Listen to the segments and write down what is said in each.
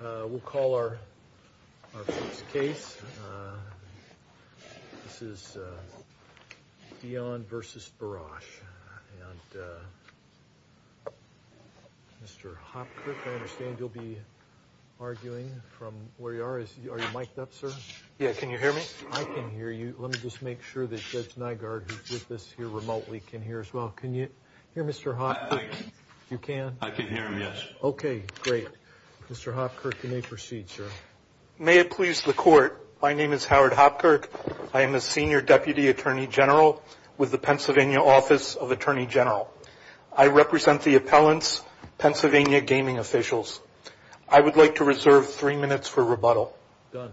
We'll call our first case. This is Deon v. Barasch. And Mr. Hopkirk, I understand you'll be arguing from where you are. Are you mic'd up, sir? Yeah, can you hear me? I can hear you. Let me just make sure that Judge Nygaard, who's with us here remotely, can hear as well. Can you hear Mr. Hopkirk? I can hear him, yes. Okay, great. Mr. Hopkirk, you may proceed, sir. May it please the Court, my name is Howard Hopkirk. I am a Senior Deputy Attorney General with the Pennsylvania Office of Attorney General. I represent the appellants, Pennsylvania gaming officials. I would like to reserve three minutes for rebuttal. Done.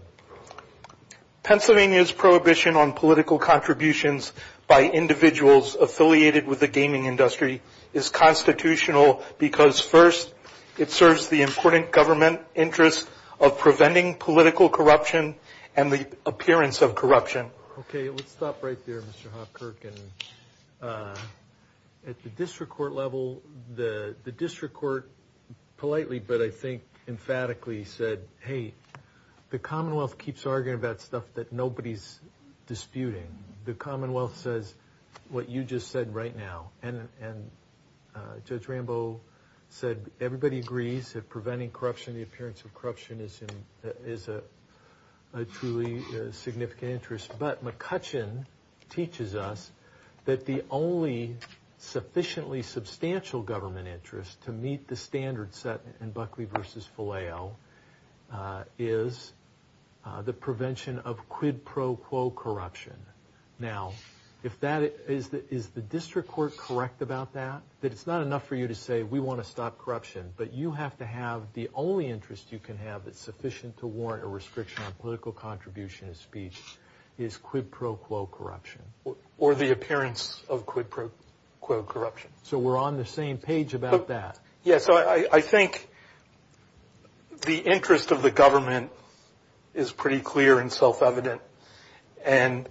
Pennsylvania's prohibition on political contributions by individuals affiliated with the gaming industry is constitutional because, first, it serves the important government interests of preventing political corruption and the appearance of corruption. Okay, let's stop right there, Mr. Hopkirk. At the district court level, the district court politely, but I think emphatically, said, hey, the Commonwealth keeps arguing about stuff that nobody's disputing. The Commonwealth says what you just said right now. And Judge Rambo said everybody agrees that preventing corruption, the appearance of corruption, is a truly significant interest. But McCutcheon teaches us that the only sufficiently substantial government interest to meet the standards set in Buckley v. Filao is the prevention of quid pro quo corruption. Now, is the district court correct about that? That it's not enough for you to say we want to stop corruption, but you have to have the only interest you can have that's sufficient to warrant a restriction on political contribution and speech is quid pro quo corruption? Or the appearance of quid pro quo corruption. So we're on the same page about that. Yes, I think the interest of the government is pretty clear and self-evident. And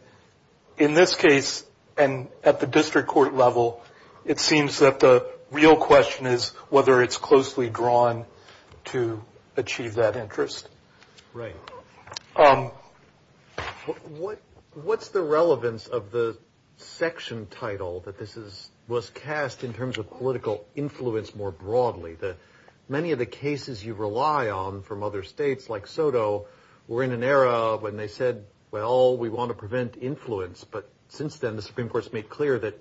in this case, and at the district court level, it seems that the real question is whether it's closely drawn to achieve that interest. Right. What's the relevance of the section title that this was cast in terms of political influence more broadly? Many of the cases you rely on from other states, like Soto, were in an era when they said, well, we want to prevent influence. But since then, the Supreme Court's made clear that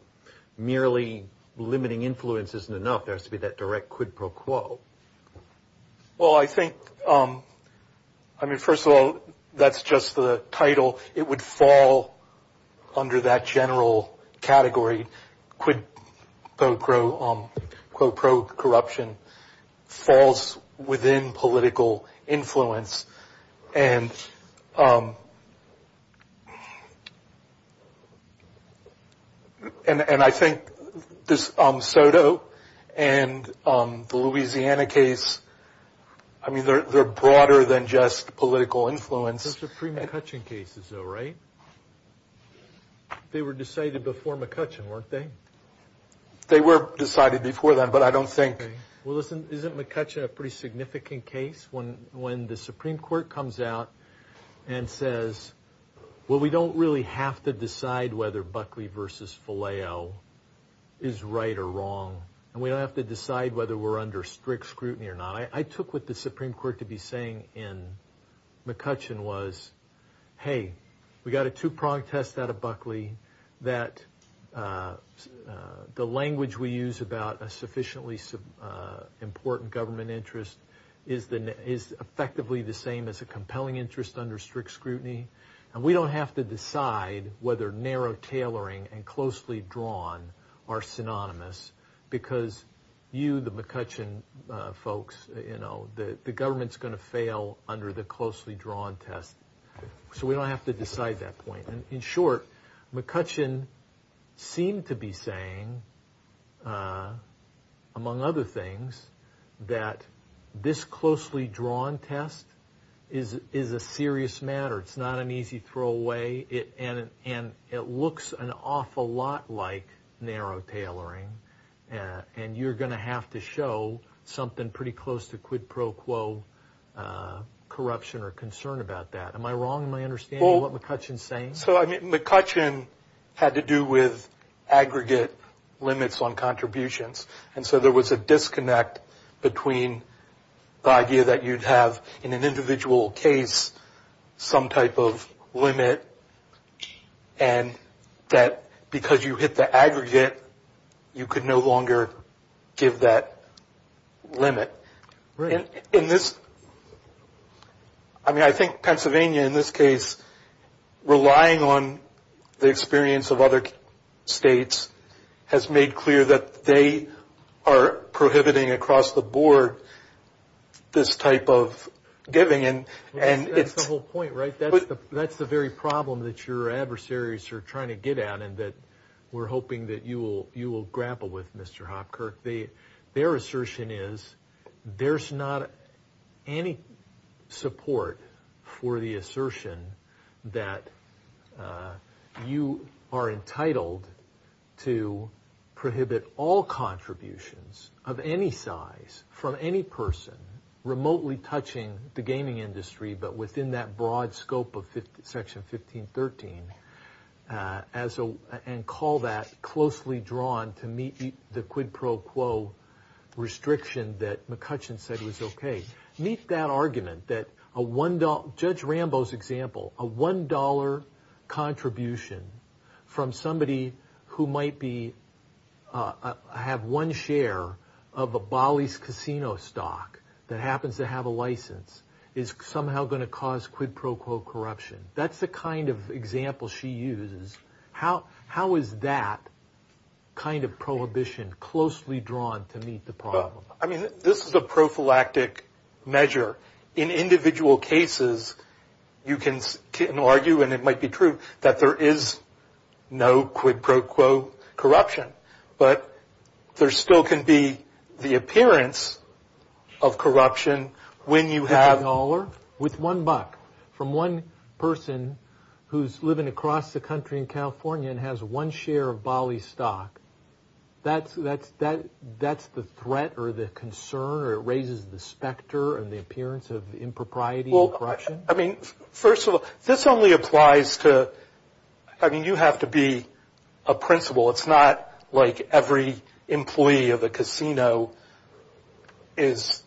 merely limiting influence isn't enough. There has to be that direct quid pro quo. Well, I think, I mean, first of all, that's just the title. It would fall under that general category. Quid pro quo corruption falls within political influence. And I think this Soto and the Louisiana case, I mean, they're broader than just political influence. Supreme McCutcheon cases, though, right? They were decided before McCutcheon, weren't they? They were decided before that, but I don't think. Well, listen, isn't McCutcheon a pretty significant case? When the Supreme Court comes out and says, well, we don't really have to decide whether Buckley versus Faleo is right or wrong, and we don't have to decide whether we're under strict scrutiny or not. I took what the Supreme Court to be saying in McCutcheon was, hey, we got a two-pronged test out of Buckley that the language we use about a sufficiently important government interest is effectively the same as a compelling interest under strict scrutiny. And we don't have to decide whether narrow tailoring and closely drawn are synonymous because you, the McCutcheon folks, you know, the government's going to fail under the closely drawn test. So we don't have to decide that point. In short, McCutcheon seemed to be saying, among other things, that this closely drawn test is a serious matter. It's not an easy throwaway, and it looks an awful lot like narrow tailoring, and you're going to have to show something pretty close to quid pro quo corruption or concern about that. Am I wrong in my understanding of what McCutcheon's saying? So, I mean, McCutcheon had to do with aggregate limits on contributions, and so there was a disconnect between the idea that you'd have in an individual case some type of limit and that because you hit the aggregate, you could no longer give that limit. I mean, I think Pennsylvania, in this case, relying on the experience of other states has made clear that they are prohibiting across the board this type of giving. That's the whole point, right? That's the very problem that your adversaries are trying to get at and that we're hoping that you will grapple with, Mr. Hopkirk. Their assertion is there's not any support for the assertion that you are entitled to prohibit all contributions of any size from any person remotely touching the gaming industry, but within that broad scope of Section 1513 and call that closely drawn to meet the quid pro quo restriction that McCutcheon said was okay. Judge Rambo's example, a $1 contribution from somebody who might have one share of a Bollies casino stock that happens to have a license is somehow going to cause quid pro quo corruption. That's the kind of example she uses. How is that kind of prohibition closely drawn to meet the problem? I mean, this is a prophylactic measure. In individual cases, you can argue, and it might be true, that there is no quid pro quo corruption, but there still can be the appearance of corruption when you have... and has one share of Bollies stock. That's the threat or the concern or it raises the specter and the appearance of impropriety and corruption? Well, I mean, first of all, this only applies to... I mean, you have to be a principal. It's not like every employee of a casino is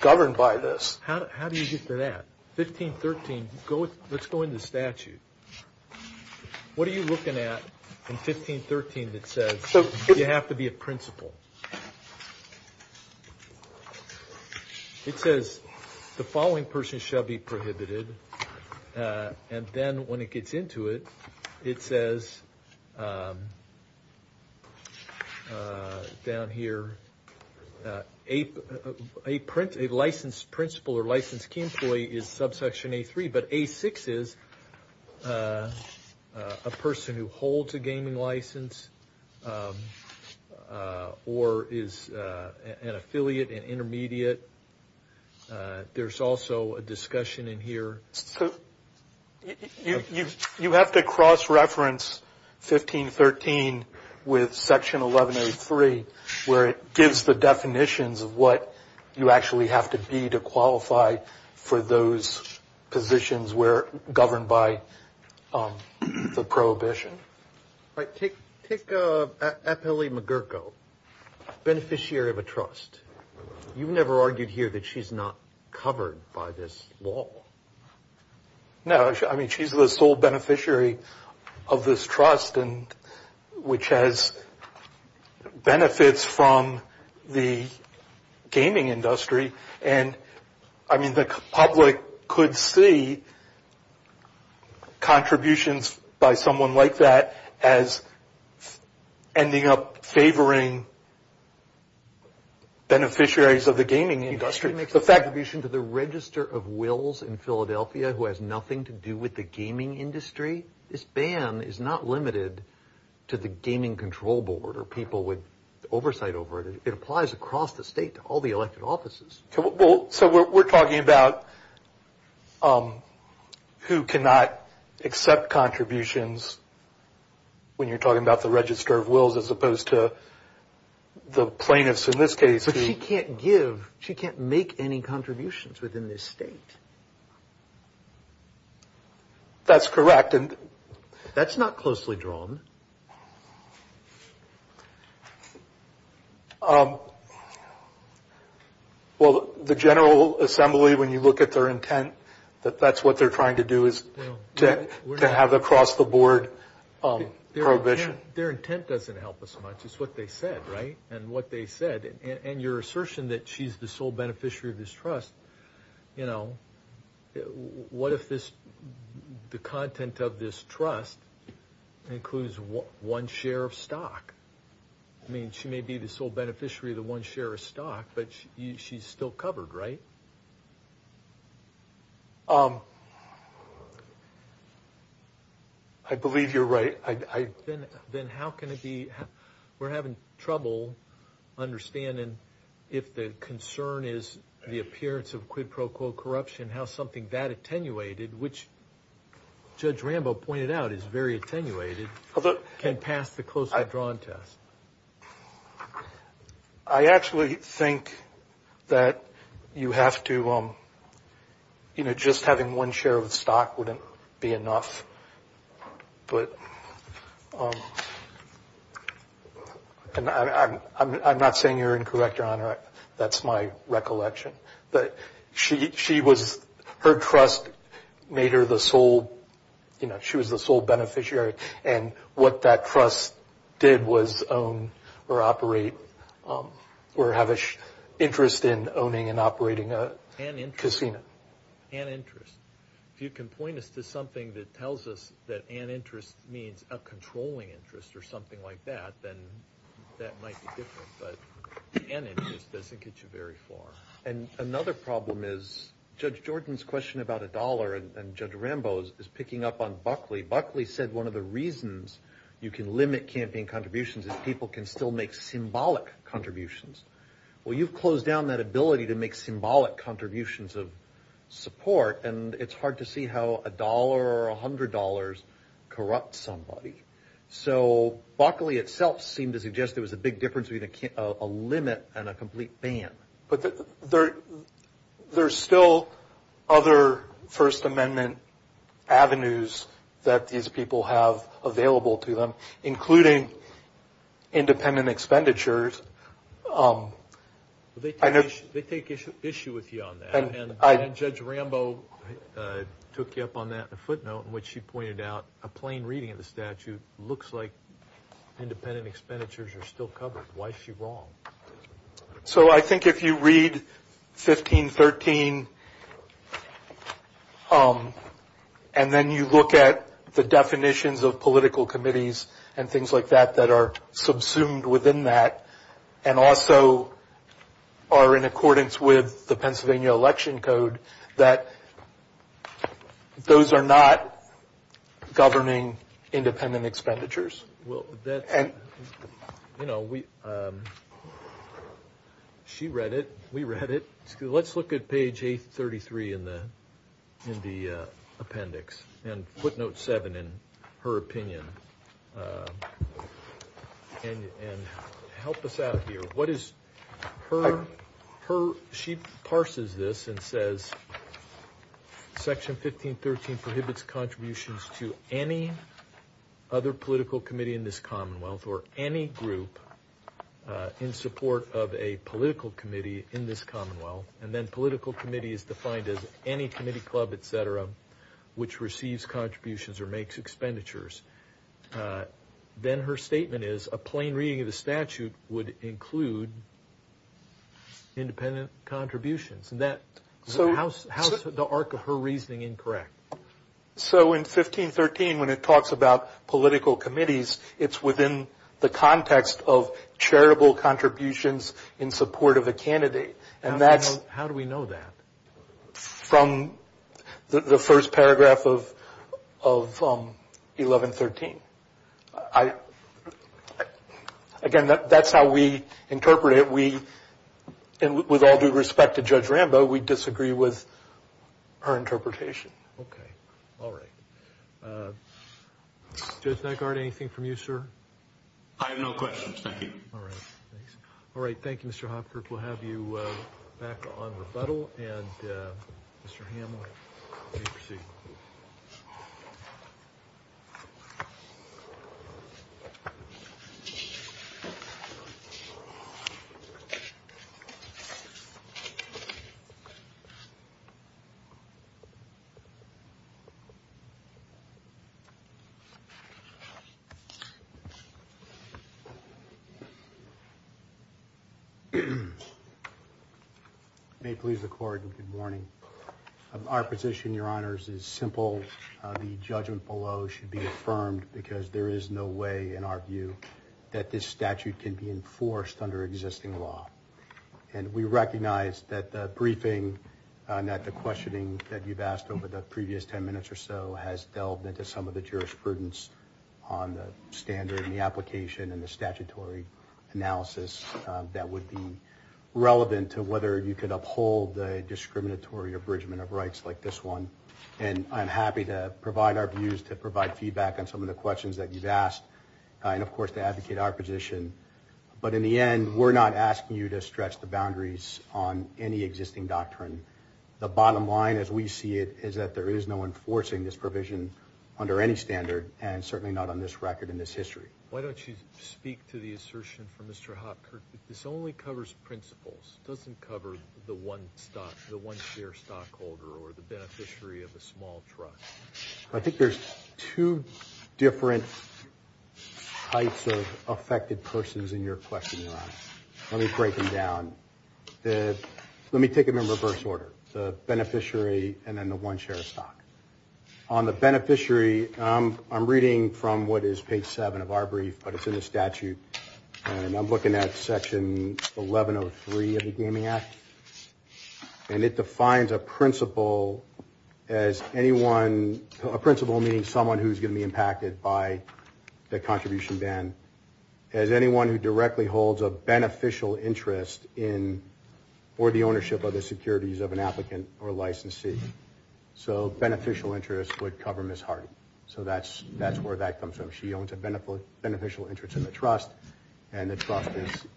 governed by this. How do you get to that? 1513, let's go into statute. What are you looking at in 1513 that says you have to be a principal? It says the following person shall be prohibited. And then when it gets into it, it says down here, a licensed principal or licensed employee is subsection A3, but A6 is a person who holds a gaming license or is an affiliate, an intermediate. There's also a discussion in here... were governed by the prohibition. All right, take Eppeli McGurkow, beneficiary of a trust. You've never argued here that she's not covered by this law. No, I mean, she's the sole beneficiary of this trust and which has benefits from the gaming industry. And I mean, the public could see contributions by someone like that as ending up favoring beneficiaries of the gaming industry. She makes a contribution to the register of wills in Philadelphia who has nothing to do with the gaming industry. This ban is not limited to the gaming control board or people with oversight over it. It applies across the state to all the elected offices. So we're talking about who cannot accept contributions when you're talking about the register of wills as opposed to the plaintiffs in this case. But she can't give, she can't make any contributions within this state. That's correct. That's not closely drawn. Well, the General Assembly, when you look at their intent, that that's what they're trying to do is to have across the board prohibition. Their intent doesn't help us much. It's what they said. Right. And what they said and your assertion that she's the sole beneficiary of this trust. You know, what if this the content of this trust includes one share of stock? I mean, she may be the sole beneficiary of the one share of stock, but she's still covered. Right. I believe you're right. I then then how can it be? We're having trouble understanding if the concern is the appearance of quid pro quo corruption, how something that attenuated, which Judge Rambo pointed out is very attenuated. Can pass the closely drawn test. I actually think that you have to. You know, just having one share of the stock wouldn't be enough. But I'm not saying you're incorrect, Your Honor. That's my recollection that she she was her trust made her the sole you know, she was the sole beneficiary. And what that trust did was own or operate or have an interest in owning and operating a casino and interest. If you can point us to something that tells us that an interest means a controlling interest or something like that, then that might be different. But an interest doesn't get you very far. And another problem is Judge Jordan's question about a dollar and Judge Rambo's is picking up on Buckley. Buckley said one of the reasons you can limit campaign contributions is people can still make symbolic contributions. Well, you've closed down that ability to make symbolic contributions of support. And it's hard to see how a dollar or one hundred dollars corrupt somebody. So Buckley itself seemed to suggest there was a big difference between a limit and a complete ban. But there's still other First Amendment avenues that these people have available to them, including independent expenditures. They take issue with you on that. Judge Rambo took you up on that footnote in which she pointed out a plain reading of the statute looks like independent expenditures are still covered. Why is she wrong? So I think if you read 1513 and then you look at the definitions of political committees and things like that that are subsumed within that and also are in accordance with the Pennsylvania Election Code, that those are not governing independent expenditures. Well, you know, she read it. We read it. Let's look at page 833 in the appendix and footnote seven in her opinion and help us out here. She parses this and says, Section 1513 prohibits contributions to any other political committee in this commonwealth or any group in support of a political committee in this commonwealth. And then political committee is defined as any committee, club, etc., which receives contributions or makes expenditures. Then her statement is a plain reading of the statute would include independent contributions. How is the arc of her reasoning incorrect? So in 1513, when it talks about political committees, it's within the context of charitable contributions in support of a candidate. How do we know that? From the first paragraph of 1113. Again, that's how we interpret it. And with all due respect to Judge Rambo, we disagree with her interpretation. Okay. All right. Judge Naggard, anything from you, sir? I have no questions. Thank you. All right. Thanks. Mr. Hopkirk, we'll have you back on rebuttal. And Mr. Hamlet. May it please the Court. Good morning. Our position, Your Honors, is simple. The judgment below should be affirmed because there is no way, in our view, that this statute can be enforced under existing law. And we recognize that the briefing and that the questioning that you've asked over the previous ten minutes or so has delved into some of the jurisprudence on the standard and the application and the statutory analysis that would be relevant to whether you could uphold the discriminatory abridgment of rights like this one. And I'm happy to provide our views, to provide feedback on some of the questions that you've asked, and, of course, to advocate our position. But in the end, we're not asking you to stretch the boundaries on any existing doctrine. The bottom line, as we see it, is that there is no enforcing this provision under any standard, and certainly not on this record in this history. Why don't you speak to the assertion from Mr. Hopkirk? This only covers principles. It doesn't cover the one stockholder or the beneficiary of a small truck. I think there's two different types of affected persons in your question, Your Honor. Let me break them down. Let me take them in reverse order, the beneficiary and then the one share of stock. On the beneficiary, I'm reading from what is page 7 of our brief, but it's in the statute, and I'm looking at section 1103 of the Gaming Act. And it defines a principal as anyone, a principal meaning someone who's going to be impacted by the contribution ban, as anyone who directly holds a beneficial interest in or the ownership of the securities of an applicant or a licensee. So beneficial interest would cover Ms. Hardy. So that's where that comes from. She owns a beneficial interest in the trust, and the trust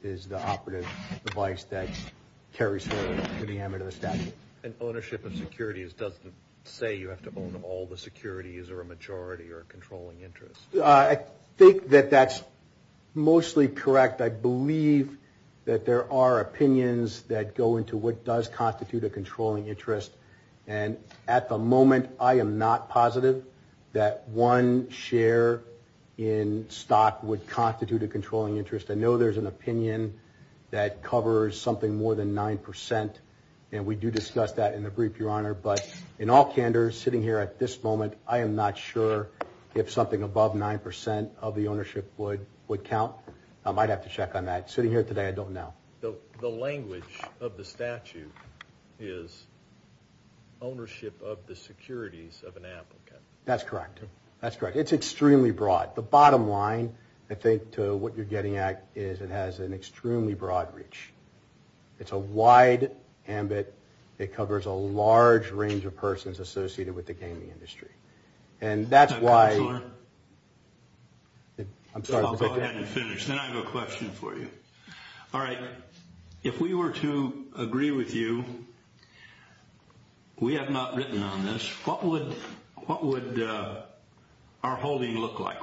is the operative device that carries her to the amit of the statute. And ownership of securities doesn't say you have to own all the securities or a majority or a controlling interest. I think that that's mostly correct. I believe that there are opinions that go into what does constitute a controlling interest. And at the moment, I am not positive that one share in stock would constitute a controlling interest. I know there's an opinion that covers something more than 9%, and we do discuss that in the brief, Your Honor. But in all candor, sitting here at this moment, I am not sure if something above 9% of the ownership would count. I might have to check on that. Sitting here today, I don't know. The language of the statute is ownership of the securities of an applicant. That's correct. That's correct. It's extremely broad. The bottom line, I think, to what you're getting at is it has an extremely broad reach. It's a wide ambit. It covers a large range of persons associated with the gaming industry. And that's why – I'm sorry. I'll go ahead and finish. Then I have a question for you. All right. If we were to agree with you, we have not written on this. What would our holding look like?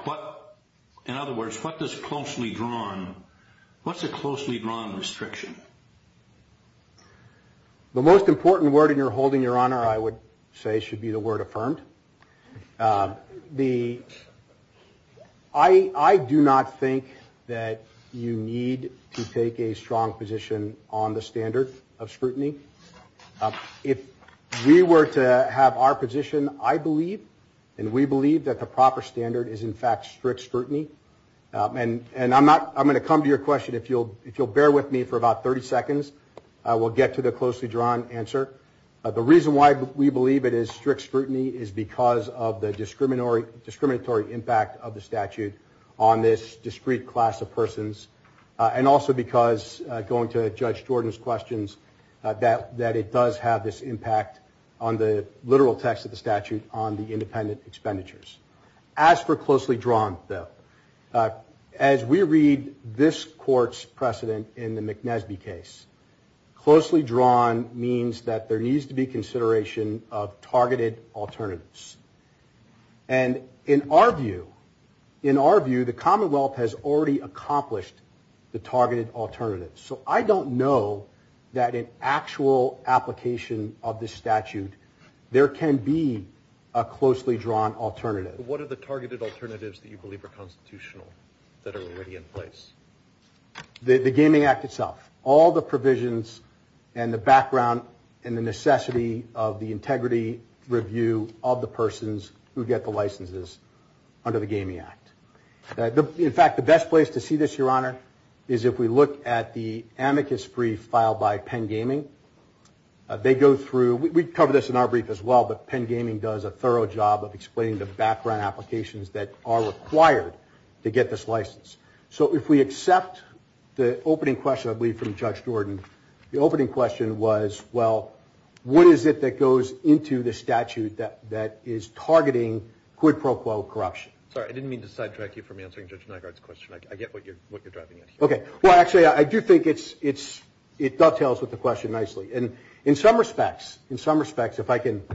In other words, what does closely drawn – what's a closely drawn restriction? The most important word in your holding, Your Honor, I would say should be the word affirmed. The – I do not think that you need to take a strong position on the standard of scrutiny. If we were to have our position, I believe and we believe that the proper standard is, in fact, strict scrutiny. And I'm not – I'm going to come to your question. If you'll bear with me for about 30 seconds, we'll get to the closely drawn answer. The reason why we believe it is strict scrutiny is because of the discriminatory impact of the statute on this discrete class of persons and also because, going to Judge Jordan's questions, that it does have this impact on the literal text of the statute, on the independent expenditures. As for closely drawn, though, as we read this court's precedent in the McNesby case, closely drawn means that there needs to be consideration of targeted alternatives. And in our view – in our view, the Commonwealth has already accomplished the targeted alternatives. So I don't know that in actual application of this statute there can be a closely drawn alternative. But what are the targeted alternatives that you believe are constitutional that are already in place? The Gaming Act itself. All the provisions and the background and the necessity of the integrity review of the persons who get the licenses under the Gaming Act. In fact, the best place to see this, Your Honor, is if we look at the amicus brief filed by Penn Gaming. They go through – we cover this in our brief as well, but Penn Gaming does a thorough job of explaining the background applications that are required to get this license. So if we accept the opening question, I believe, from Judge Jordan, the opening question was, well, what is it that goes into the statute that is targeting quid pro quo corruption? Sorry, I didn't mean to sidetrack you from answering Judge Nygaard's question. I get what you're driving at here. Okay. Well, actually, I do think it dovetails with the question nicely. And in some respects, if I can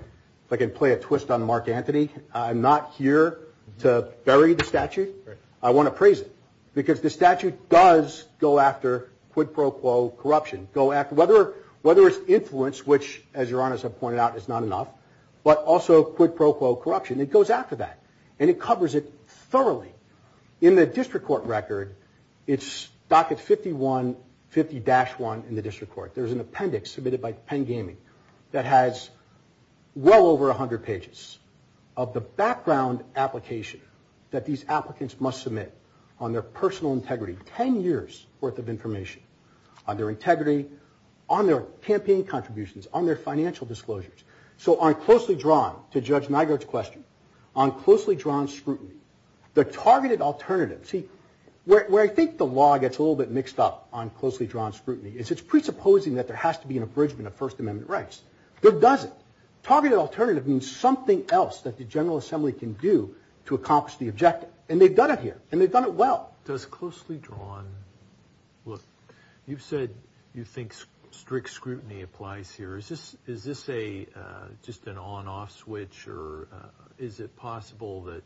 play a twist on Mark Antony, I'm not here to bury the statute. Right. I want to praise it because the statute does go after quid pro quo corruption, whether it's influence, which, as Your Honor has pointed out, is not enough, but also quid pro quo corruption. It goes after that, and it covers it thoroughly. In the district court record, it's docket 5150-1 in the district court. There's an appendix submitted by Penn Gaming that has well over 100 pages of the background application that these applicants must submit on their personal integrity. Ten years' worth of information on their integrity, on their campaign contributions, on their financial disclosures. So I'm closely drawn to Judge Nygaard's question on closely drawn scrutiny. The targeted alternative, see, where I think the law gets a little bit mixed up on closely drawn scrutiny, is it's presupposing that there has to be an abridgment of First Amendment rights. There doesn't. Targeted alternative means something else that the General Assembly can do to accomplish the objective, and they've done it here, and they've done it well. Does closely drawn, look, you've said you think strict scrutiny applies here. Is this just an on-off switch, or is it possible that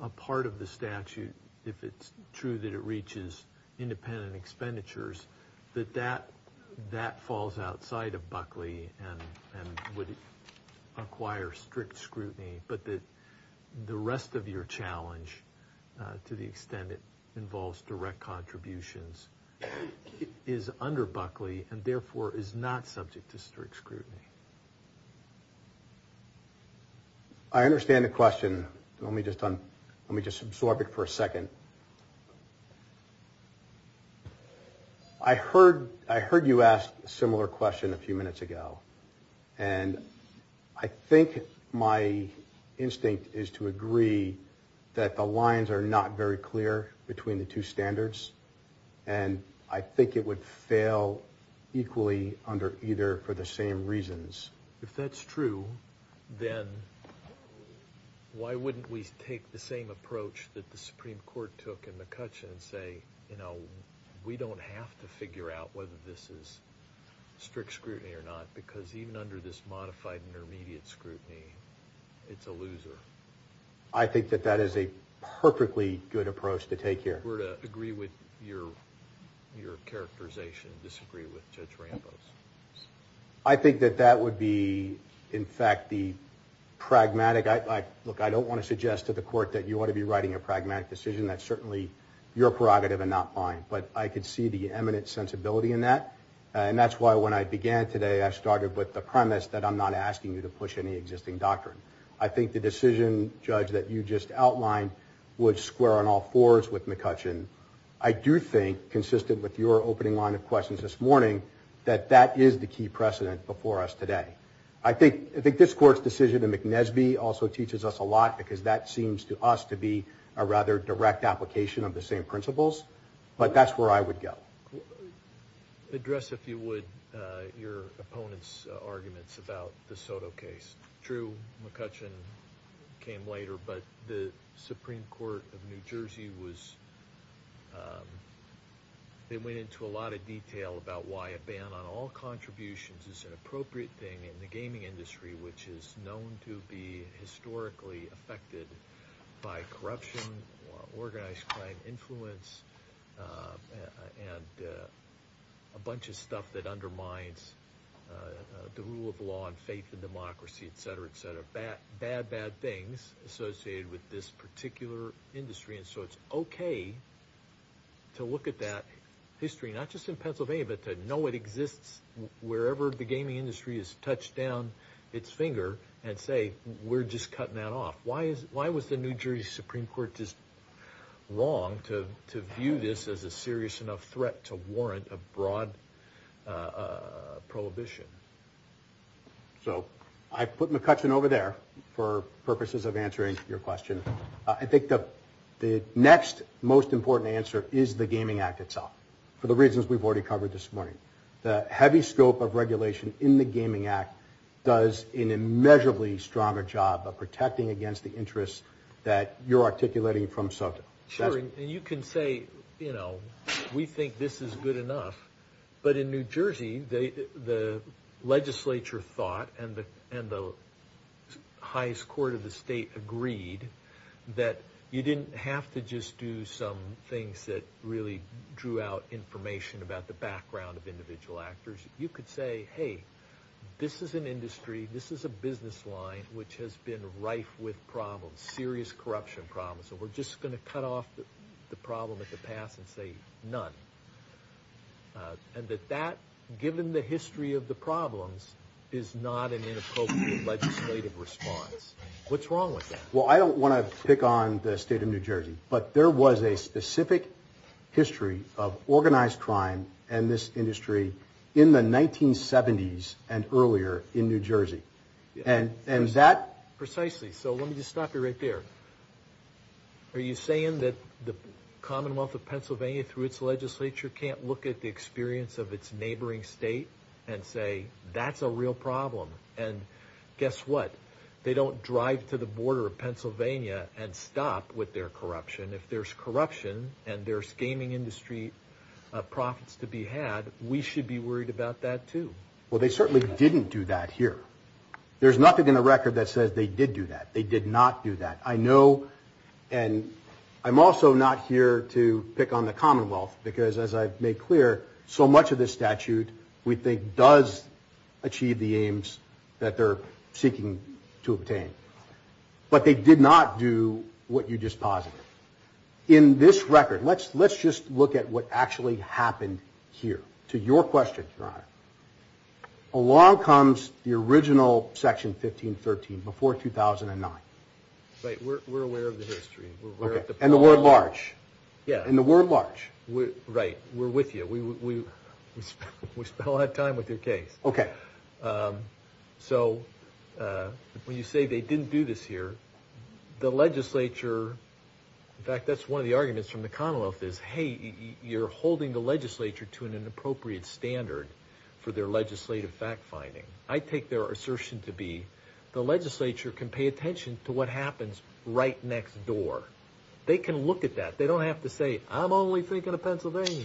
a part of the statute, if it's true that it reaches independent expenditures, that that falls outside of Buckley and would acquire strict scrutiny, but that the rest of your challenge, to the extent it involves direct contributions, is under Buckley and therefore is not subject to strict scrutiny? I understand the question. Let me just absorb it for a second. I heard you ask a similar question a few minutes ago, and I think my instinct is to agree that the lines are not very clear between the two standards, and I think it would fail equally under either for the same reasons. If that's true, then why wouldn't we take the same approach that the Supreme Court took in McCutcheon and say, you know, we don't have to figure out whether this is strict scrutiny or not, because even under this modified intermediate scrutiny, it's a loser. I think that that is a perfectly good approach to take here. Were to agree with your characterization and disagree with Judge Ramos. I think that that would be, in fact, the pragmatic. Look, I don't want to suggest to the court that you ought to be writing a pragmatic decision. That's certainly your prerogative and not mine, but I could see the eminent sensibility in that, and that's why when I began today, I started with the premise that I'm not asking you to push any existing doctrine. I think the decision, Judge, that you just outlined would square on all fours with McCutcheon. I do think, consistent with your opening line of questions this morning, that that is the key precedent before us today. I think this court's decision in McNesby also teaches us a lot, because that seems to us to be a rather direct application of the same principles, but that's where I would go. Address, if you would, your opponent's arguments about the Soto case. It's true, McCutcheon came later, but the Supreme Court of New Jersey went into a lot of detail about why a ban on all contributions is an appropriate thing in the gaming industry, which is known to be historically affected by corruption, organized crime, influence, and a bunch of stuff that undermines the rule of law and faith in democracy, etc., etc. Bad, bad things associated with this particular industry, and so it's okay to look at that history, not just in Pennsylvania, but to know it exists wherever the gaming industry has touched down its finger, and say, we're just cutting that off. Why was the New Jersey Supreme Court just wrong to view this as a serious enough threat to warrant a broad prohibition? So, I put McCutcheon over there for purposes of answering your question. I think the next most important answer is the Gaming Act itself, for the reasons we've already covered this morning. The heavy scope of regulation in the Gaming Act does an immeasurably stronger job of protecting against the interests that you're articulating from Soto. Sure, and you can say, you know, we think this is good enough, but in New Jersey, the legislature thought, and the highest court of the state agreed, that you didn't have to just do some things that really drew out information about the background of individual actors. You could say, hey, this is an industry, this is a business line, which has been rife with problems, serious corruption problems, and we're just going to cut off the problem at the pass and say none, and that that, given the history of the problems, is not an inappropriate legislative response. What's wrong with that? Well, I don't want to pick on the state of New Jersey, but there was a specific history of organized crime in this industry in the 1970s and earlier in New Jersey, and that... Precisely, so let me just stop you right there. Are you saying that the Commonwealth of Pennsylvania, through its legislature, can't look at the experience of its neighboring state and say, that's a real problem, and guess what? They don't drive to the border of Pennsylvania and stop with their corruption. If there's corruption and there's gaming industry profits to be had, we should be worried about that, too. Well, they certainly didn't do that here. There's nothing in the record that says they did do that. They did not do that. I know, and I'm also not here to pick on the Commonwealth, because, as I've made clear, so much of this statute we think does achieve the aims that they're seeking to obtain. But they did not do what you just posited. In this record, let's just look at what actually happened here. To your question, Your Honor, along comes the original Section 1513, before 2009. Right, we're aware of the history. And the word large. Yeah. And the word large. Right, we're with you. We spent a lot of time with your case. Okay. So when you say they didn't do this here, the legislature, in fact, that's one of the arguments from the Commonwealth is, hey, you're holding the legislature to an inappropriate standard for their legislative fact-finding. I take their assertion to be the legislature can pay attention to what happens right next door. They can look at that. They don't have to say, I'm only thinking of Pennsylvania.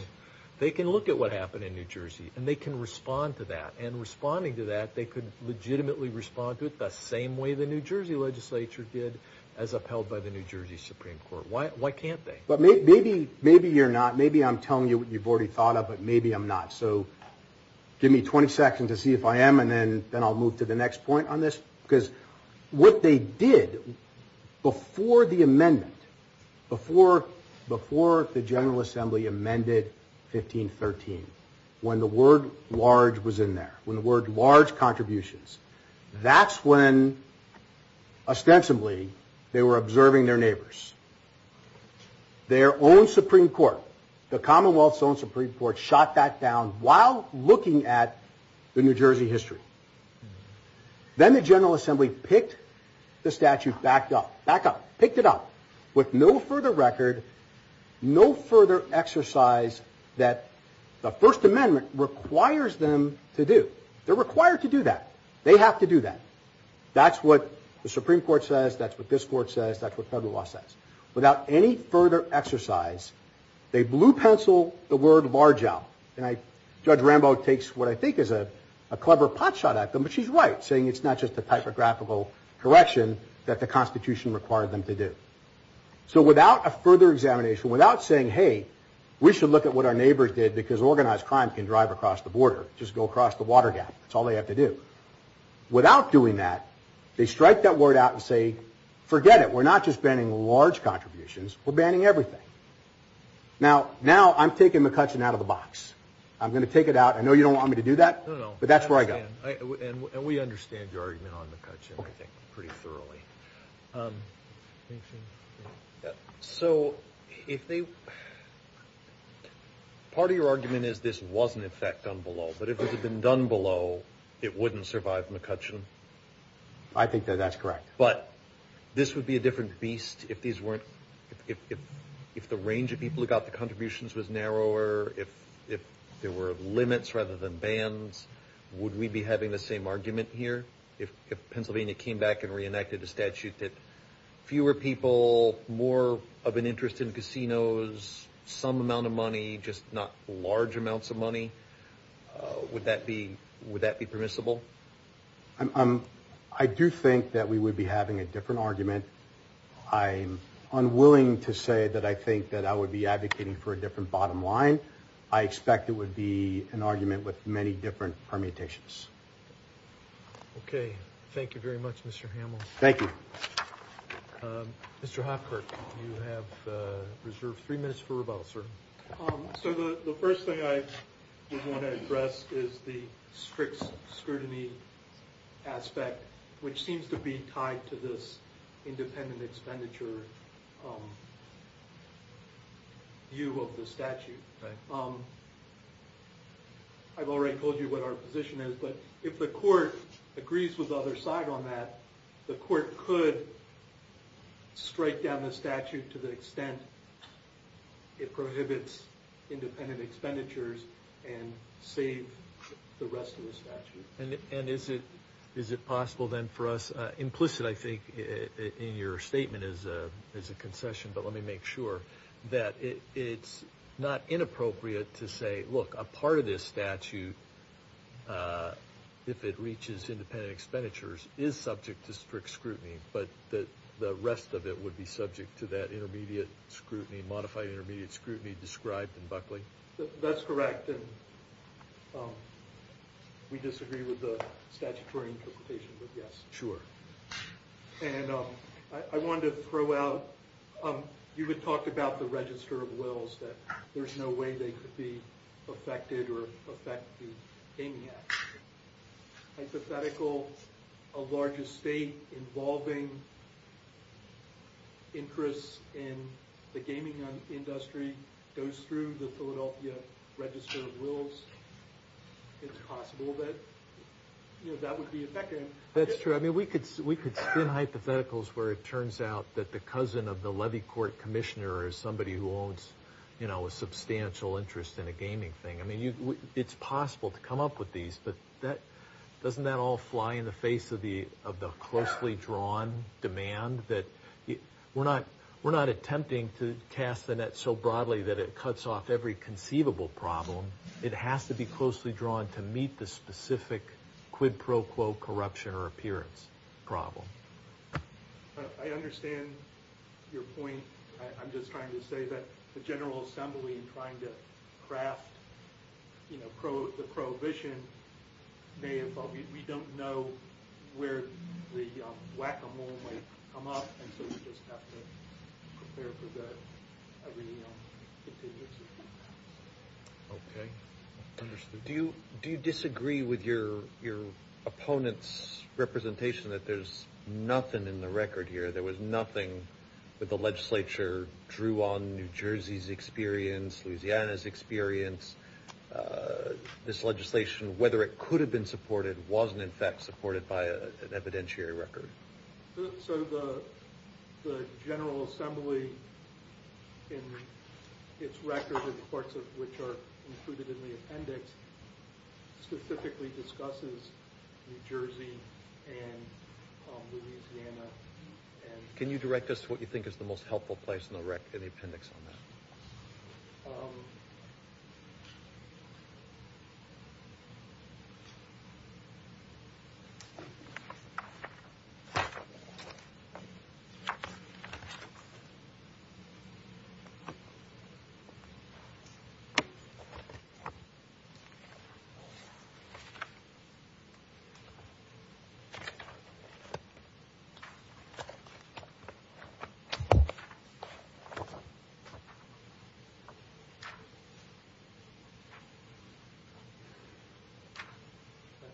They can look at what happened in New Jersey, and they can respond to that. And responding to that, they could legitimately respond to it the same way the New Jersey legislature did, as upheld by the New Jersey Supreme Court. Why can't they? But maybe you're not. Maybe I'm telling you what you've already thought of, but maybe I'm not. So give me 20 seconds to see if I am, and then I'll move to the next point on this. Because what they did before the amendment, before the General Assembly amended 1513, when the word large was in there, when the word large contributions, that's when, ostensibly, they were observing their neighbors. Their own Supreme Court, the Commonwealth's own Supreme Court, shot that down while looking at the New Jersey history. Then the General Assembly picked the statute back up. Back up. Picked it up. With no further record, no further exercise that the First Amendment requires them to do. They're required to do that. They have to do that. That's what the Supreme Court says. That's what this court says. That's what federal law says. Without any further exercise, they blue pencil the word large out. Judge Rambo takes what I think is a clever pot shot at them, but she's right, saying it's not just a typographical correction that the Constitution required them to do. So without a further examination, without saying, hey, we should look at what our neighbors did, because organized crime can drive across the border, just go across the water gap. That's all they have to do. Without doing that, they strike that word out and say, forget it. We're not just banning large contributions. We're banning everything. Now I'm taking McCutcheon out of the box. I'm going to take it out. I know you don't want me to do that, but that's where I got it. And we understand your argument on McCutcheon, I think, pretty thoroughly. So part of your argument is this was, in effect, done below, but if it had been done below, it wouldn't survive McCutcheon? I think that that's correct. But this would be a different beast if the range of people who got the contributions was narrower, if there were limits rather than bans. Would we be having the same argument here? If Pennsylvania came back and reenacted a statute that fewer people, more of an interest in casinos, some amount of money, just not large amounts of money, would that be permissible? I do think that we would be having a different argument. I'm unwilling to say that I think that I would be advocating for a different bottom line. I expect it would be an argument with many different permutations. Okay. Thank you very much, Mr. Hamel. Thank you. Mr. Hofkirk, you have reserved three minutes for rebuttal, sir. So the first thing I did want to address is the strict scrutiny aspect, which seems to be tied to this independent expenditure view of the statute. I've already told you what our position is, but if the court agrees with the other side on that, the court could strike down the statute to the extent it prohibits independent expenditures and save the rest of the statute. And is it possible then for us, implicit, I think, in your statement as a concession, but let me make sure, that it's not inappropriate to say, look, a part of this statute, if it reaches independent expenditures, is subject to strict scrutiny, but the rest of it would be subject to that intermediate scrutiny, modified intermediate scrutiny described in Buckley? That's correct. We disagree with the statutory interpretation, but yes. Sure. And I wanted to throw out, you had talked about the register of wills, that there's no way they could be affected or affect the gaming act. Hypothetical, a larger state involving interest in the gaming industry goes through the Philadelphia register of wills. It's possible that that would be affected. That's true. I mean, we could spin hypotheticals where it turns out that the cousin of the levy court commissioner is somebody who owns a substantial interest in a gaming thing. I mean, it's possible to come up with these, but doesn't that all fly in the face of the closely drawn demand? We're not attempting to cast the net so broadly that it cuts off every conceivable problem. It has to be closely drawn to meet the specific quid pro quo corruption or appearance problem. I understand your point. I'm just trying to say that the General Assembly in trying to craft the prohibition may involve we don't know where the whack-a-mole might come up, and so we just have to prepare for every contingency. Okay, understood. Do you disagree with your opponent's representation that there's nothing in the record here? There was nothing that the legislature drew on New Jersey's experience, Louisiana's experience. This legislation, whether it could have been supported, wasn't in fact supported by an evidentiary record. So the General Assembly in its record, in parts of which are included in the appendix, specifically discusses New Jersey and Louisiana. Can you direct us to what you think is the most helpful place in the appendix on that?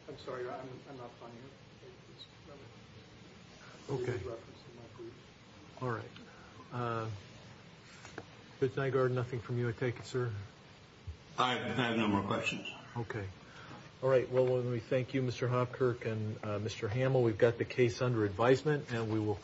I'm sorry. I'm not finding it. Okay. All right. Good night, Gordon. Nothing from you, I take it, sir? I have no more questions. Okay. All right. Well, let me thank you, Mr. Hopkirk and Mr. Hamill. We've got the case under advisement, and we will.